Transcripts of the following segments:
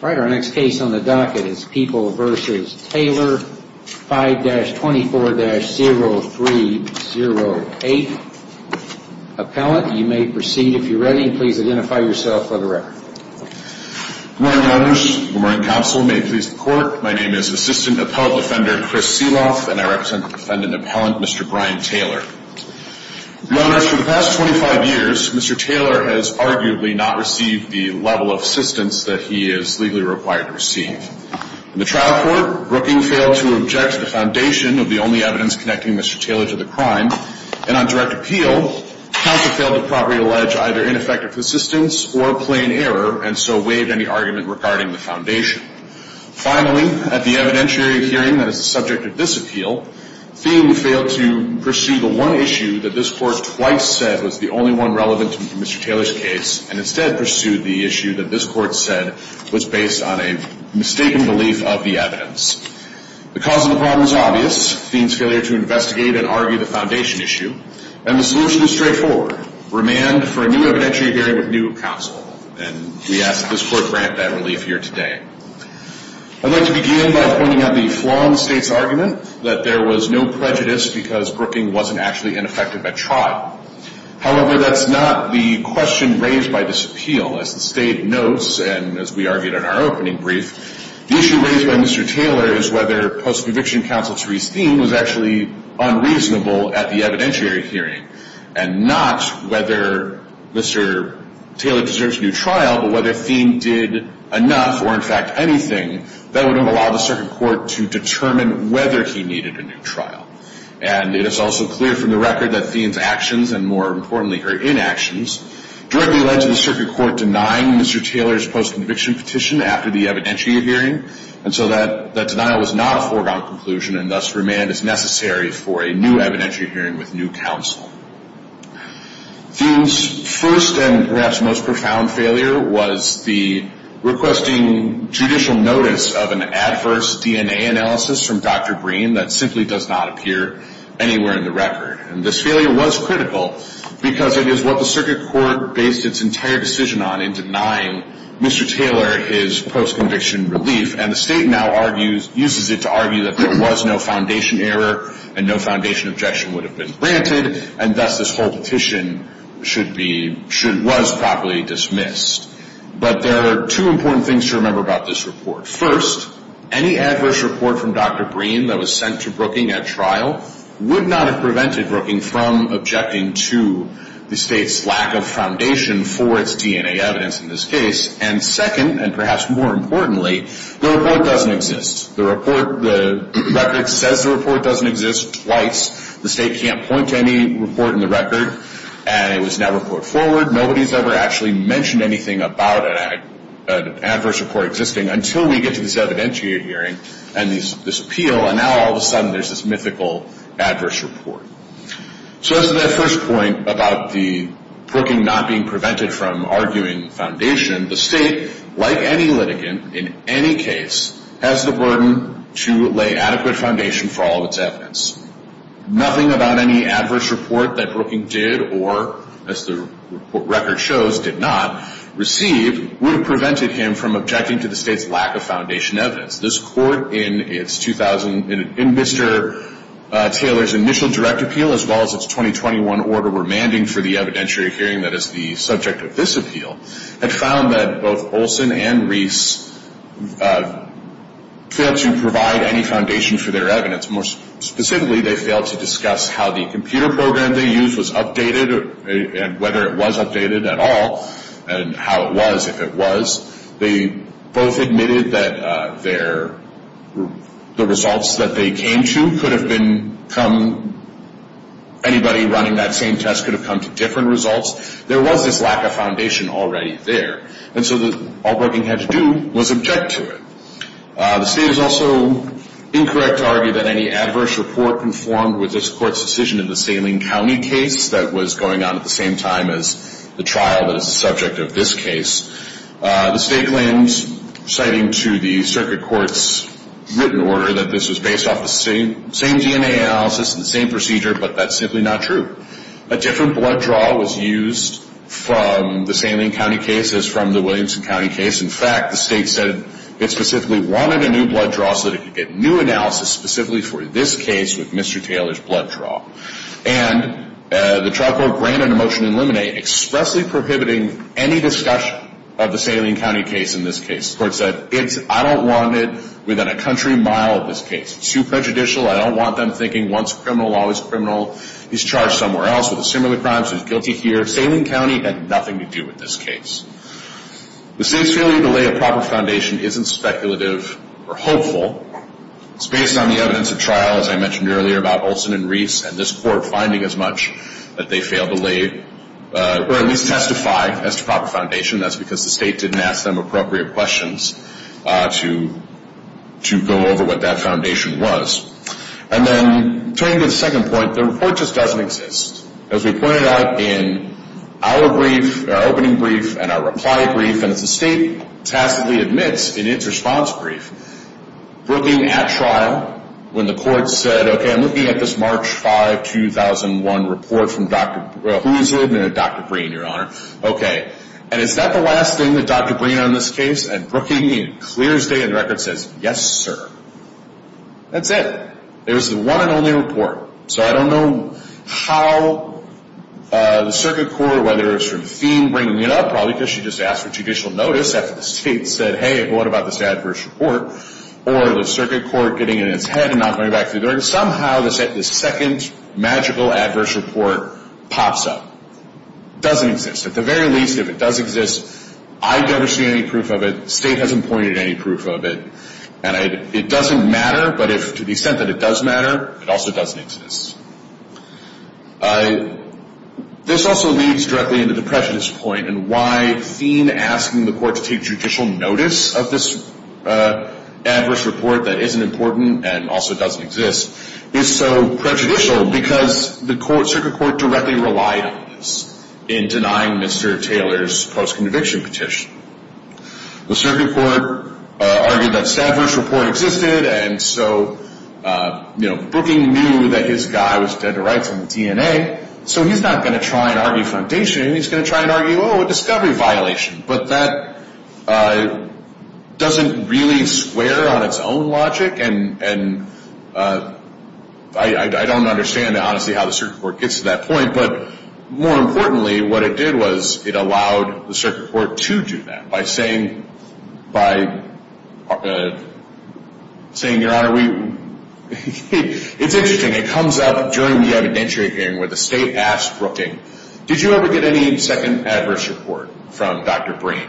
All right, our next case on the docket is People v. Taylor, 5-24-0308. Appellant, you may proceed if you're ready. Please identify yourself for the record. Good morning, Your Honors. Good morning, Counsel. May it please the Court, my name is Assistant Appellant Defender Chris Seeloff, and I represent the Defendant Appellant, Mr. Brian Taylor. Your Honors, for the past 25 years, Mr. Taylor has arguably not received the level of assistance that he is legally required to receive. In the trial court, Brookings failed to object to the foundation of the only evidence connecting Mr. Taylor to the crime. And on direct appeal, counsel failed to properly allege either ineffective assistance or plain error, and so waived any argument regarding the foundation. Finally, at the evidentiary hearing that is the subject of this appeal, Thiem failed to pursue the one issue that this Court twice said was the only one relevant to Mr. Taylor's case, and instead pursued the issue that this Court said was based on a mistaken belief of the evidence. The cause of the problem is obvious, Thiem's failure to investigate and argue the foundation issue, and the solution is straightforward, remand for a new evidentiary hearing with new counsel. And we ask that this Court grant that relief here today. I'd like to begin by pointing out the flaw in the State's argument that there was no prejudice because Brookings wasn't actually ineffective at trial. However, that's not the question raised by this appeal. As the State notes, and as we argued in our opening brief, the issue raised by Mr. Taylor is whether post-conviction counsel Thiem was actually unreasonable at the evidentiary hearing, and not whether Mr. Taylor deserves a new trial, but whether Thiem did enough or, in fact, anything that would have allowed the Circuit Court to determine whether he needed a new trial. And it is also clear from the record that Thiem's actions, and more importantly, her inactions, directly led to the Circuit Court denying Mr. Taylor's post-conviction petition after the evidentiary hearing, and so that denial was not a foregone conclusion, and thus remand is necessary for a new evidentiary hearing with new counsel. Thiem's first and perhaps most profound failure was the requesting judicial notice of an adverse DNA analysis from Dr. Green that simply does not appear anywhere in the record. And this failure was critical because it is what the Circuit Court based its entire decision on in denying Mr. Taylor his post-conviction relief, and the State now argues, uses it to argue, that there was no foundation error and no foundation objection would have been granted, and thus this whole petition should be, should, was properly dismissed. But there are two important things to remember about this report. First, any adverse report from Dr. Green that was sent to Brooking at trial would not have prevented Brooking from objecting to the State's lack of foundation for its DNA evidence in this case. And second, and perhaps more importantly, the report doesn't exist. The report, the record says the report doesn't exist twice. The State can't point to any report in the record, and it was never put forward. Nobody's ever actually mentioned anything about an adverse report existing until we get to this evidentiary hearing and this appeal, and now all of a sudden there's this mythical adverse report. So as to that first point about the Brooking not being prevented from arguing foundation, the State, like any litigant in any case, has the burden to lay adequate foundation for all of its evidence. Nothing about any adverse report that Brooking did or, as the record shows, did not receive, would have prevented him from objecting to the State's lack of foundation evidence. This court, in its 2000, in Mr. Taylor's initial direct appeal, as well as its 2021 order remanding for the evidentiary hearing that is the subject of this appeal, had found that both Olson and Reese failed to provide any foundation for their evidence. More specifically, they failed to discuss how the computer program they used was updated and whether it was updated at all and how it was, if it was. They both admitted that the results that they came to could have been come, anybody running that same test could have come to different results. There was this lack of foundation already there, and so all Brooking had to do was object to it. The State is also incorrect to argue that any adverse report conformed with this court's decision in the Salem County case that was going on at the same time as the trial that is the subject of this case. The State claims, citing to the circuit court's written order, that this was based off the same DNA analysis and the same procedure, but that's simply not true. A different blood draw was used from the Salem County case as from the Williamson County case. In fact, the State said it specifically wanted a new blood draw so that it could get new analysis specifically for this case with Mr. Taylor's blood draw. And the trial court granted a motion to eliminate, expressly prohibiting any discussion of the Salem County case in this case. The court said, I don't want it within a country mile of this case. It's too prejudicial. I don't want them thinking once criminal, always criminal. He's charged somewhere else with a similar crime, so he's guilty here. Salem County had nothing to do with this case. The State's failure to lay a proper foundation isn't speculative or hopeful. It's based on the evidence at trial, as I mentioned earlier, about Olson and Reese and this court finding as much that they failed to lay or at least testify as to proper foundation. That's because the State didn't ask them appropriate questions to go over what that foundation was. And then turning to the second point, the report just doesn't exist. As we pointed out in our brief, our opening brief and our reply brief, and as the State tacitly admits in its response brief, Brookings at trial, when the court said, okay, I'm looking at this March 5, 2001 report from Dr. Who is it? Dr. Breen, Your Honor. Okay. And is that the last thing that Dr. Breen on this case? And Brookings clears the record and says, yes, sir. That's it. It was the one and only report. So I don't know how the circuit court, whether it was from Thiem bringing it up, probably because she just asked for judicial notice after the State said, hey, what about this adverse report? Or the circuit court getting it in its head and not going back to the court. Somehow this second magical adverse report pops up. It doesn't exist. At the very least, if it does exist, I've never seen any proof of it. The State hasn't pointed any proof of it. And it doesn't matter, but to the extent that it does matter, it also doesn't exist. This also leads directly into the prejudice point and why Thiem asking the court to take judicial notice of this adverse report that isn't important and also doesn't exist is so prejudicial because the circuit court directly relied on this in denying Mr. Taylor's post-conviction petition. The circuit court argued that this adverse report existed, and so, you know, Brookings knew that his guy was dead to rights in the DNA. So he's not going to try and argue foundation. He's going to try and argue, oh, a discovery violation. But that doesn't really square on its own logic, and I don't understand, honestly, how the circuit court gets to that point. But more importantly, what it did was it allowed the circuit court to do that by saying, Your Honor, it's interesting. It comes up during the evidentiary hearing where the State asked Brookings, did you ever get any second adverse report from Dr. Breen?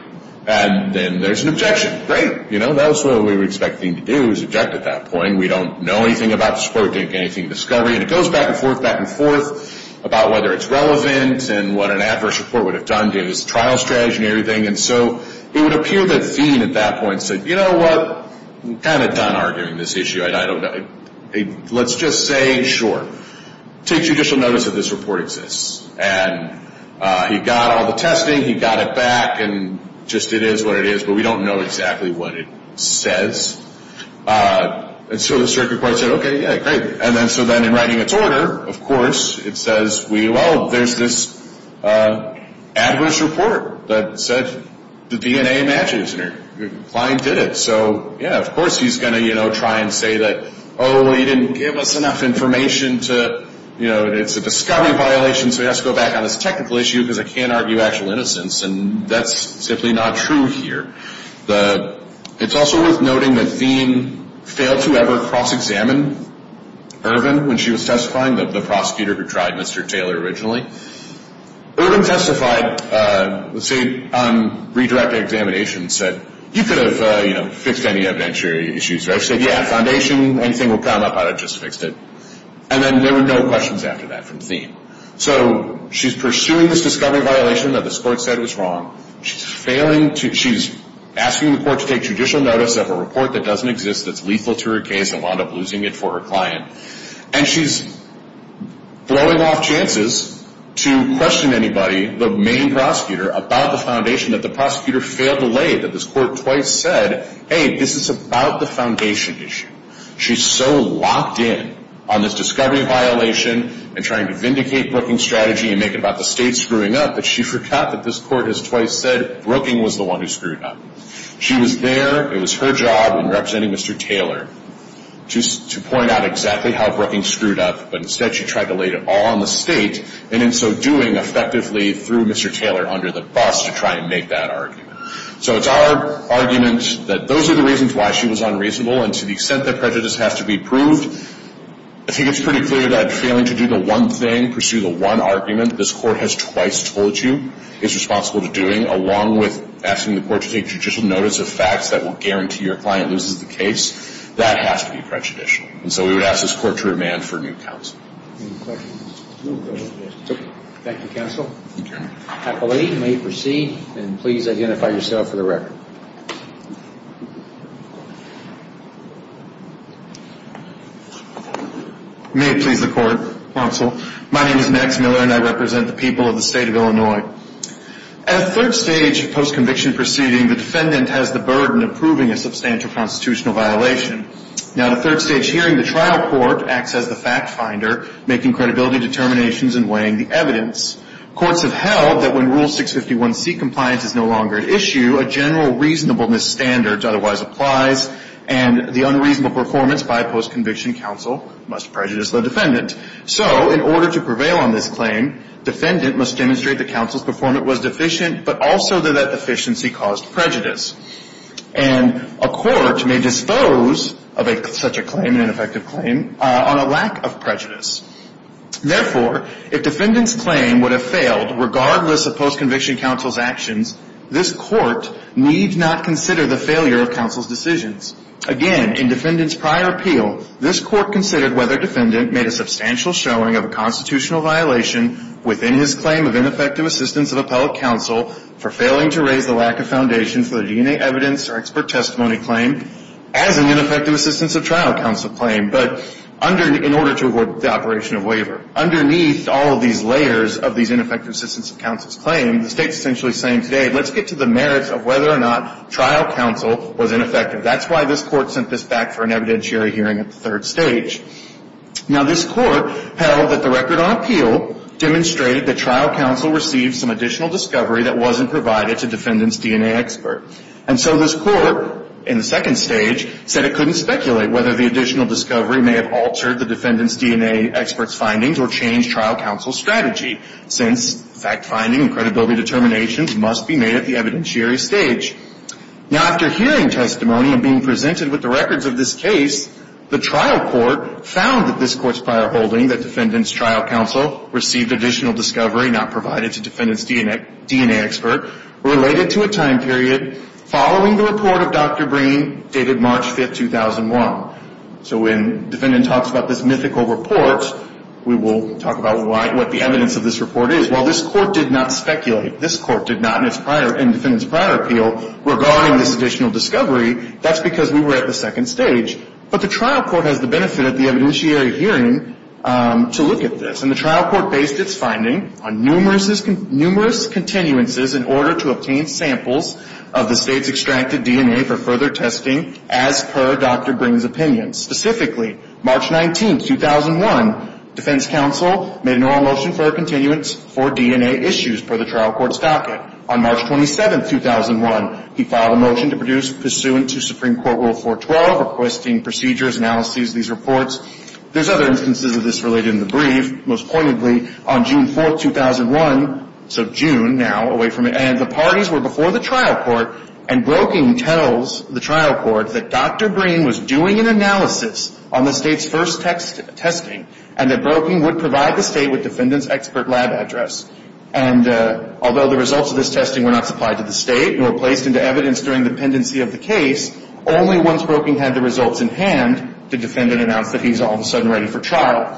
And then there's an objection, right? You know, that's what we were expecting to do is object at that point. We don't know anything about the report. We didn't get anything in discovery. And it goes back and forth, back and forth about whether it's relevant and what an adverse report would have done, gave us a trial strategy and everything. And so it would appear that Feen at that point said, You know what? I'm kind of done arguing this issue. Let's just say, Sure. Take judicial notice that this report exists. And he got all the testing. He got it back, and just it is what it is. But we don't know exactly what it says. And so the circuit court said, Okay, yeah, great. And then so then in writing its order, of course, it says, Well, there's this adverse report that said the DNA matches. And your client did it. So, yeah, of course he's going to, you know, try and say that, Oh, he didn't give us enough information to, you know, it's a discovery violation, so he has to go back on this technical issue because I can't argue actual innocence. And that's simply not true here. It's also worth noting that Feen failed to ever cross-examine Irvin when she was testifying, the prosecutor who tried Mr. Taylor originally. Irvin testified, let's say, on redirected examination and said, You could have, you know, fixed any evidentiary issues. I said, Yeah, foundation, anything will come up. I just fixed it. And then there were no questions after that from Feen. So she's pursuing this discovery violation that this court said was wrong. She's asking the court to take judicial notice of a report that doesn't exist, that's lethal to her case, and wound up losing it for her client. And she's blowing off chances to question anybody, the main prosecutor, about the foundation that the prosecutor failed to lay, that this court twice said, Hey, this is about the foundation issue. She's so locked in on this discovery violation and trying to vindicate Brookings' strategy and make it about the state screwing up that she forgot that this court has twice said Brookings was the one who screwed up. She was there. It was her job in representing Mr. Taylor to point out exactly how Brookings screwed up, but instead she tried to lay it all on the state and in so doing effectively threw Mr. Taylor under the bus to try and make that argument. So it's our argument that those are the reasons why she was unreasonable and to the extent that prejudice has to be proved, I think it's pretty clear that failing to do the one thing, pursue the one argument this court has twice told you is responsible to doing, along with asking the court to take judicial notice of facts that will guarantee your client loses the case, that has to be prejudicial. And so we would ask this court to remand for new counsel. Thank you, counsel. Thank you. I believe you may proceed and please identify yourself for the record. May it please the court, counsel. My name is Max Miller and I represent the people of the state of Illinois. At a third stage post-conviction proceeding, the defendant has the burden of proving a substantial constitutional violation. Now at a third stage hearing, the trial court acts as the fact finder, making credibility determinations and weighing the evidence. Courts have held that when Rule 651C compliance is no longer at issue, a general reasonableness standard otherwise applies and the unreasonable performance by a post-conviction counsel must prejudice the defendant. So in order to prevail on this claim, defendant must demonstrate that counsel's performance was deficient, but also that that deficiency caused prejudice. And a court may dispose of such a claim, an ineffective claim, on a lack of prejudice. Therefore, if defendant's claim would have failed, regardless of post-conviction counsel's actions, this court need not consider the failure of counsel's decisions. Again, in defendant's prior appeal, this court considered whether defendant made a substantial showing of a constitutional violation within his claim of ineffective assistance of appellate counsel for failing to raise the lack of foundation for the DNA evidence or expert testimony claim as an ineffective assistance of trial counsel claim. But in order to avoid the operation of waiver, underneath all of these layers of these ineffective assistance of counsel's claim, the State's essentially saying today, let's get to the merits of whether or not trial counsel was ineffective. That's why this Court sent this back for an evidentiary hearing at the third stage. Now, this Court held that the record on appeal demonstrated that trial counsel received some additional discovery that wasn't provided to defendant's DNA expert. And so this Court, in the second stage, said it couldn't speculate whether the additional discovery may have altered the defendant's DNA expert's findings or changed trial counsel's strategy, since fact-finding and credibility determinations must be made at the evidentiary stage. Now, after hearing testimony and being presented with the records of this case, the trial court found that this Court's prior holding that defendant's trial counsel received additional discovery not provided to defendant's DNA expert related to a time period following the report of Dr. Breen, dated March 5, 2001. So when defendant talks about this mythical report, we will talk about what the evidence of this report is. While this Court did not speculate, this Court did not, in defendant's prior appeal, regarding this additional discovery, that's because we were at the second stage. But the trial court has the benefit of the evidentiary hearing to look at this. And the trial court based its finding on numerous continuances in order to obtain samples of the State's extracted DNA for further testing as per Dr. Breen's opinion. Specifically, March 19, 2001, defense counsel made an oral motion for a continuance for DNA issues per the trial court's docket. On March 27, 2001, he filed a motion to produce, pursuant to Supreme Court Rule 412, requesting procedures, analyses of these reports. There's other instances of this related in the brief. Most pointedly, on June 4, 2001, so June now, and the parties were before the trial court and Broeking tells the trial court that Dr. Breen was doing an analysis on the State's first testing and that Broeking would provide the State with defendant's expert lab address. And although the results of this testing were not supplied to the State nor placed into evidence during the pendency of the case, only once Broeking had the results in hand, did defendant announce that he's all of a sudden ready for trial.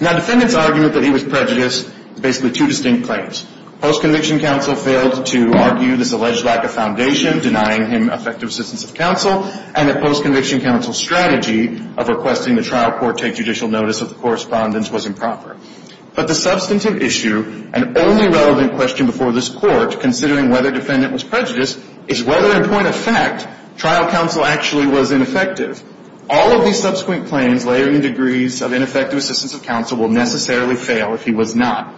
Now, defendant's argument that he was prejudiced, basically two distinct claims. Post-conviction counsel failed to argue this alleged lack of foundation, denying him effective assistance of counsel, and that post-conviction counsel's strategy of requesting the trial court take judicial notice of the correspondence was improper. But the substantive issue, and only relevant question before this Court, considering whether defendant was prejudiced, is whether, in point of fact, trial counsel actually was ineffective. All of these subsequent claims, layering the degrees of ineffective assistance of counsel, will necessarily fail if he was not.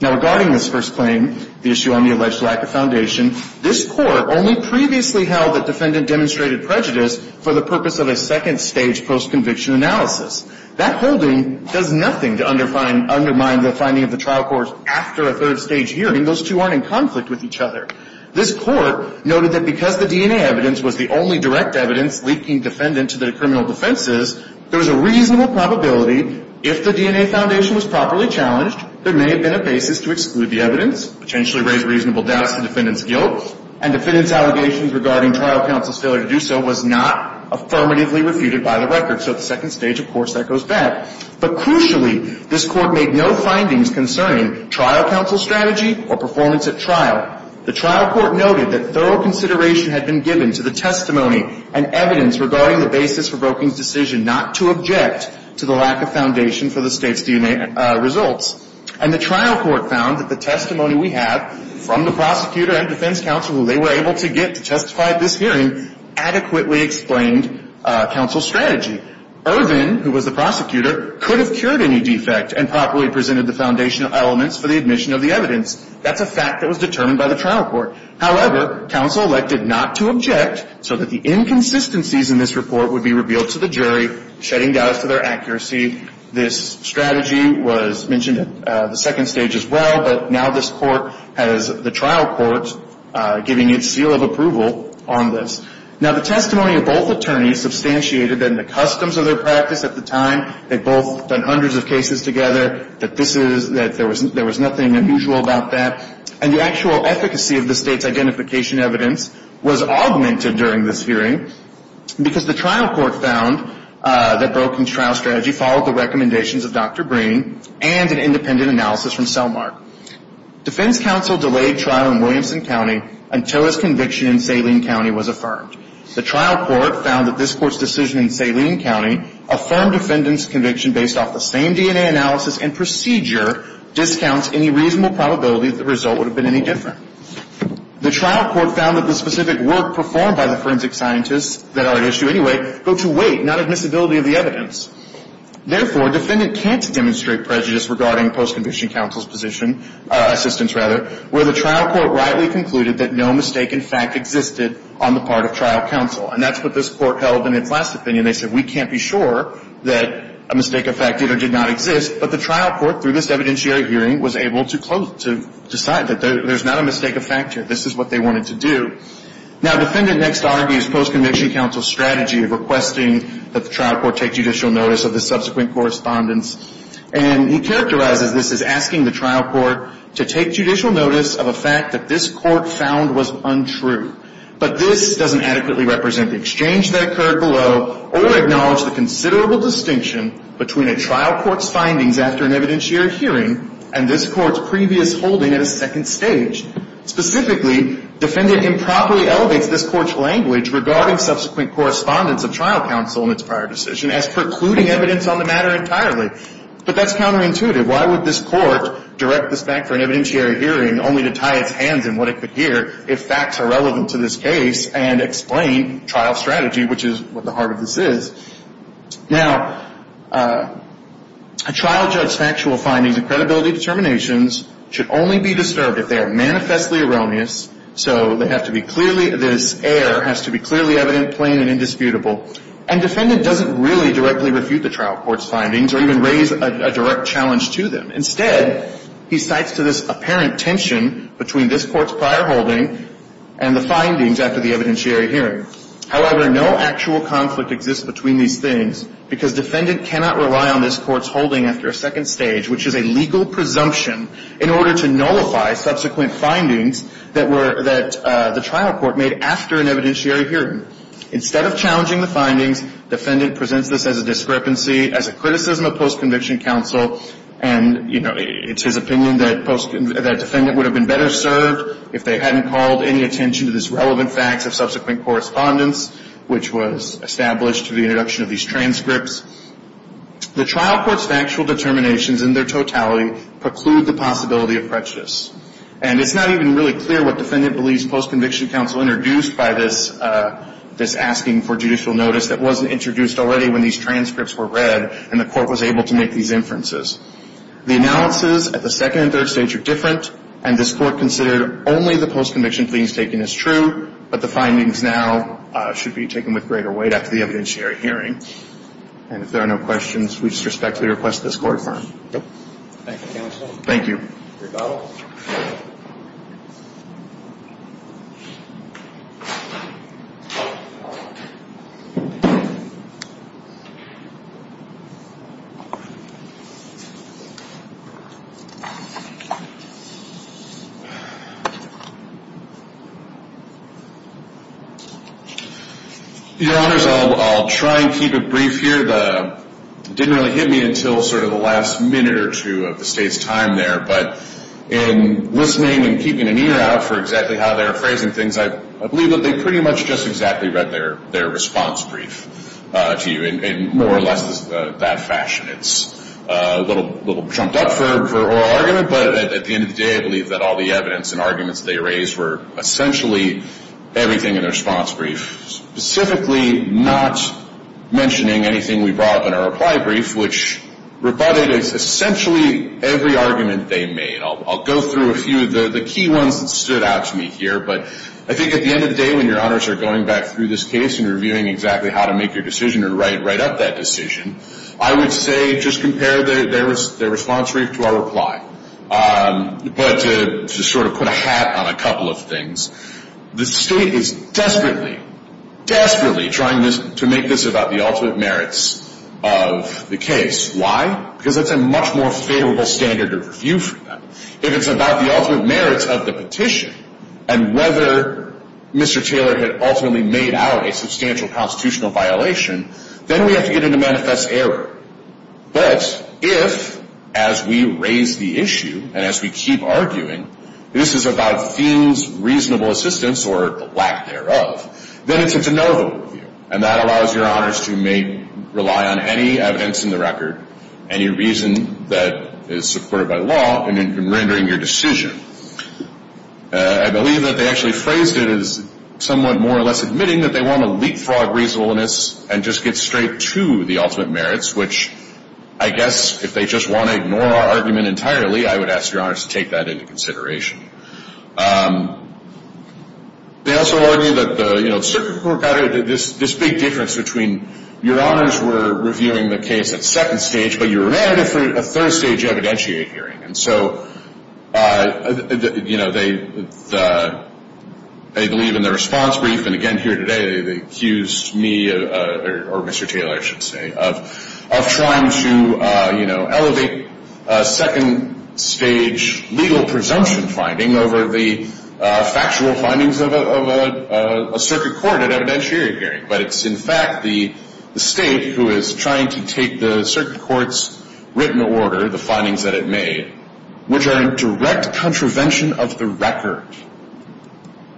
Now, regarding this first claim, the issue on the alleged lack of foundation, this Court only previously held that defendant demonstrated prejudice for the purpose of a second-stage post-conviction analysis. That holding does nothing to undermine the finding of the trial court after a third-stage hearing. Those two aren't in conflict with each other. This Court noted that because the DNA evidence was the only direct evidence leaking defendant to the criminal defenses, there was a reasonable probability, if the DNA foundation was properly challenged, there may have been a basis to exclude the evidence, potentially raise reasonable doubts to defendant's guilt, and defendant's allegations regarding trial counsel's failure to do so was not affirmatively refuted by the record. So at the second stage, of course, that goes back. But crucially, this Court made no findings concerning trial counsel's strategy or performance at trial. The trial court noted that thorough consideration had been given to the testimony and evidence regarding the basis for Broeking's decision not to object to the lack of foundation for the State's DNA results. And the trial court found that the testimony we have from the prosecutor and defense counsel who they were able to get to testify at this hearing adequately explained counsel's strategy. Irvin, who was the prosecutor, could have cured any defect and properly presented the foundational elements for the admission of the evidence. That's a fact that was determined by the trial court. However, counsel elected not to object so that the inconsistencies in this report would be revealed to the jury, shedding doubt as to their accuracy. This strategy was mentioned at the second stage as well, but now this Court has the trial court giving its seal of approval on this. Now, the testimony of both attorneys substantiated that in the customs of their practice at the time they'd both done hundreds of cases together, that there was nothing unusual about that. And the actual efficacy of the State's identification evidence was augmented during this hearing because the trial court found that Broeking's trial strategy followed the recommendations of Dr. Breen and an independent analysis from Selmark. Defense counsel delayed trial in Williamson County until his conviction in Saline County was affirmed. The trial court found that this Court's decision in Saline County, affirmed defendant's conviction based off the same DNA analysis and procedure, discounts any reasonable probability that the result would have been any different. The trial court found that the specific work performed by the forensic scientists that are at issue anyway go to weight, not admissibility of the evidence. Therefore, defendant can't demonstrate prejudice regarding post-conviction counsel's position, assistance rather, where the trial court rightly concluded that no mistake in fact existed on the part of trial counsel. And that's what this Court held in its last opinion. They said we can't be sure that a mistake of fact either did not exist, but the trial court through this evidentiary hearing was able to close, to decide that there's not a mistake of fact here. This is what they wanted to do. Now, defendant next argues post-conviction counsel's strategy of requesting that the trial court take judicial notice of the subsequent correspondence. And he characterizes this as asking the trial court to take judicial notice of a fact that this court found was untrue. But this doesn't adequately represent the exchange that occurred below or acknowledge the considerable distinction between a trial court's findings after an evidentiary hearing and this court's previous holding at a second stage. Specifically, defendant improperly elevates this court's language regarding subsequent correspondence of trial counsel in its prior decision as precluding evidence on the matter entirely. But that's counterintuitive. Why would this court direct this back for an evidentiary hearing only to tie its hands in what it could hear if facts are relevant to this case and explain trial strategy, which is what the heart of this is? Now, a trial judge's factual findings and credibility determinations should only be disturbed if they are manifestly erroneous, so they have to be clearly, this error has to be clearly evident, plain, and indisputable. And defendant doesn't really directly refute the trial court's findings or even raise a direct challenge to them. Instead, he cites to this apparent tension between this court's prior holding and the findings after the evidentiary hearing. However, no actual conflict exists between these things because defendant cannot rely on this court's holding after a second stage, which is a legal presumption in order to nullify subsequent findings that the trial court made after an evidentiary hearing. Instead of challenging the findings, defendant presents this as a discrepancy, as a criticism of post-conviction counsel, and, you know, it's his opinion that defendant would have been better served if they hadn't called any attention to this relevant facts of subsequent correspondence, which was established through the introduction of these transcripts. The trial court's factual determinations in their totality preclude the possibility of prejudice. And it's not even really clear what defendant believes post-conviction counsel introduced by this asking for judicial notice that wasn't introduced already when these transcripts were read and the court was able to make these inferences. The analysis at the second and third stage are different, and this court considered only the post-conviction pleadings taken as true, but the findings now should be taken with greater weight after the evidentiary hearing. And if there are no questions, we just respectfully request that this court adjourn. Thank you, counsel. Thank you. Your Honor, I'll try and keep it brief here. It didn't really hit me until sort of the last minute or two of the State's time there, but in listening and keeping an ear out for exactly how they were phrasing things, I believe that they pretty much just exactly read their response brief to you in more or less that fashion. It's a little jumped up for oral argument, but at the end of the day, I believe that all the evidence and arguments they raised were essentially everything in their response brief, specifically not mentioning anything we brought up in our reply brief, which rebutted essentially every argument they made. I'll go through a few of the key ones that stood out to me here, but I think at the end of the day when your Honors are going back through this case and reviewing exactly how to make your decision or write up that decision, I would say just compare their response brief to our reply, but to sort of put a hat on a couple of things. The State is desperately, desperately trying to make this about the ultimate merits of the case. Why? Because that's a much more favorable standard of review for them. If it's about the ultimate merits of the petition and whether Mr. Taylor had ultimately made out a substantial constitutional violation, then we have to get into manifest error. But if, as we raise the issue and as we keep arguing, this is about Finn's reasonable assistance or the lack thereof, then it's a de novo review, and that allows your Honors to rely on any evidence in the record, any reason that is supported by the law in rendering your decision. I believe that they actually phrased it as somewhat more or less admitting that they want to leapfrog reasonableness and just get straight to the ultimate merits, which I guess if they just want to ignore our argument entirely, I would ask your Honors to take that into consideration. They also argue that the Circuit Court got this big difference between your Honors were reviewing the case at second stage, but you ran it for a third stage evidentiate hearing. And so they believe in the response brief, and again here today they accused me, or Mr. Taylor I should say, of trying to elevate second stage legal presumption finding over the factual findings of a Circuit Court at evidentiary hearing. But it's in fact the State who is trying to take the Circuit Court's written order, the findings that it made, which are in direct contravention of the record,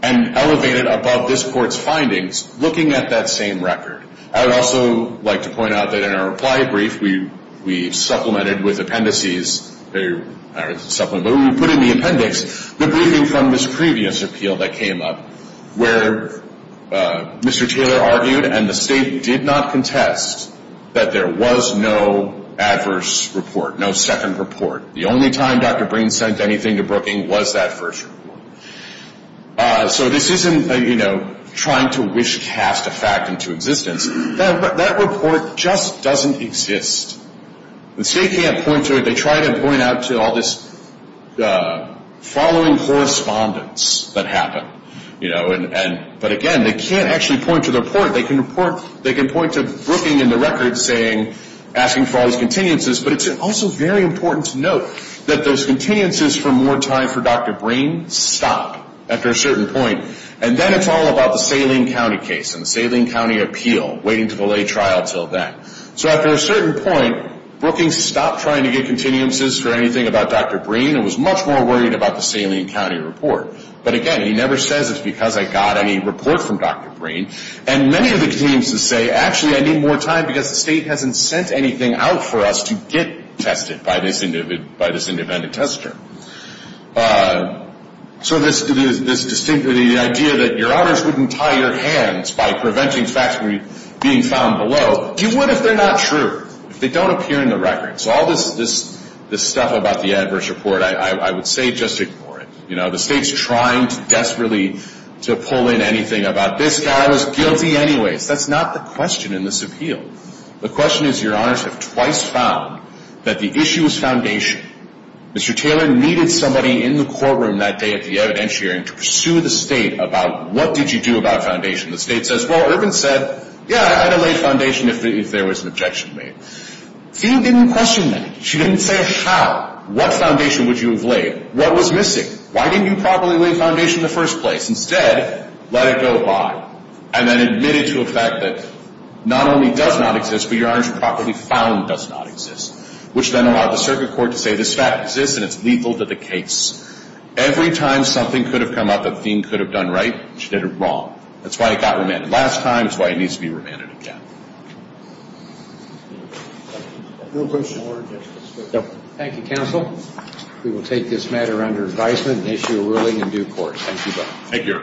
and elevate it above this Court's findings, looking at that same record. I would also like to point out that in our reply brief we supplemented with appendices, or we put in the appendix the briefing from this previous appeal that came up, where Mr. Taylor argued and the State did not contest that there was no adverse report, no second report. The only time Dr. Breen sent anything to Brookings was that first report. So this isn't trying to wish cast a fact into existence. That report just doesn't exist. The State can't point to it. They try to point out to all this following correspondence that happened. But again, they can't actually point to the report. They can point to Brookings in the record asking for all these continuances, but it's also very important to note that those continuances for more time for Dr. Breen stop after a certain point. And then it's all about the Saline County case and the Saline County appeal, waiting to delay trial until then. So after a certain point, Brookings stopped trying to get continuances for anything about Dr. Breen and was much more worried about the Saline County report. But again, he never says it's because I got any report from Dr. Breen. And many of the continuances say, actually, I need more time because the State hasn't sent anything out for us to get tested by this independent tester. So this idea that your honors wouldn't tie your hands by preventing facts from being found below, you would if they're not true, if they don't appear in the record. So all this stuff about the adverse report, I would say just ignore it. The State's trying desperately to pull in anything about this guy was guilty anyways. That's not the question in this appeal. The question is your honors have twice found that the issue is foundation. Mr. Taylor needed somebody in the courtroom that day at the evidentiary to pursue the State about, what did you do about foundation? The State says, well, Irvin said, yeah, I'd have laid foundation if there was an objection made. Field didn't question that. She didn't say how. What foundation would you have laid? What was missing? Why didn't you properly lay foundation in the first place? Instead, let it go by and then admit it to a fact that not only does not exist, but your honors have properly found it does not exist, which then allowed the circuit court to say this fact exists and it's lethal to the case. Every time something could have come up that the Dean could have done right, she did it wrong. That's why it got remanded last time. That's why it needs to be remanded again. Thank you, counsel. We will take this matter under advisement and issue a ruling in due course. Thank you.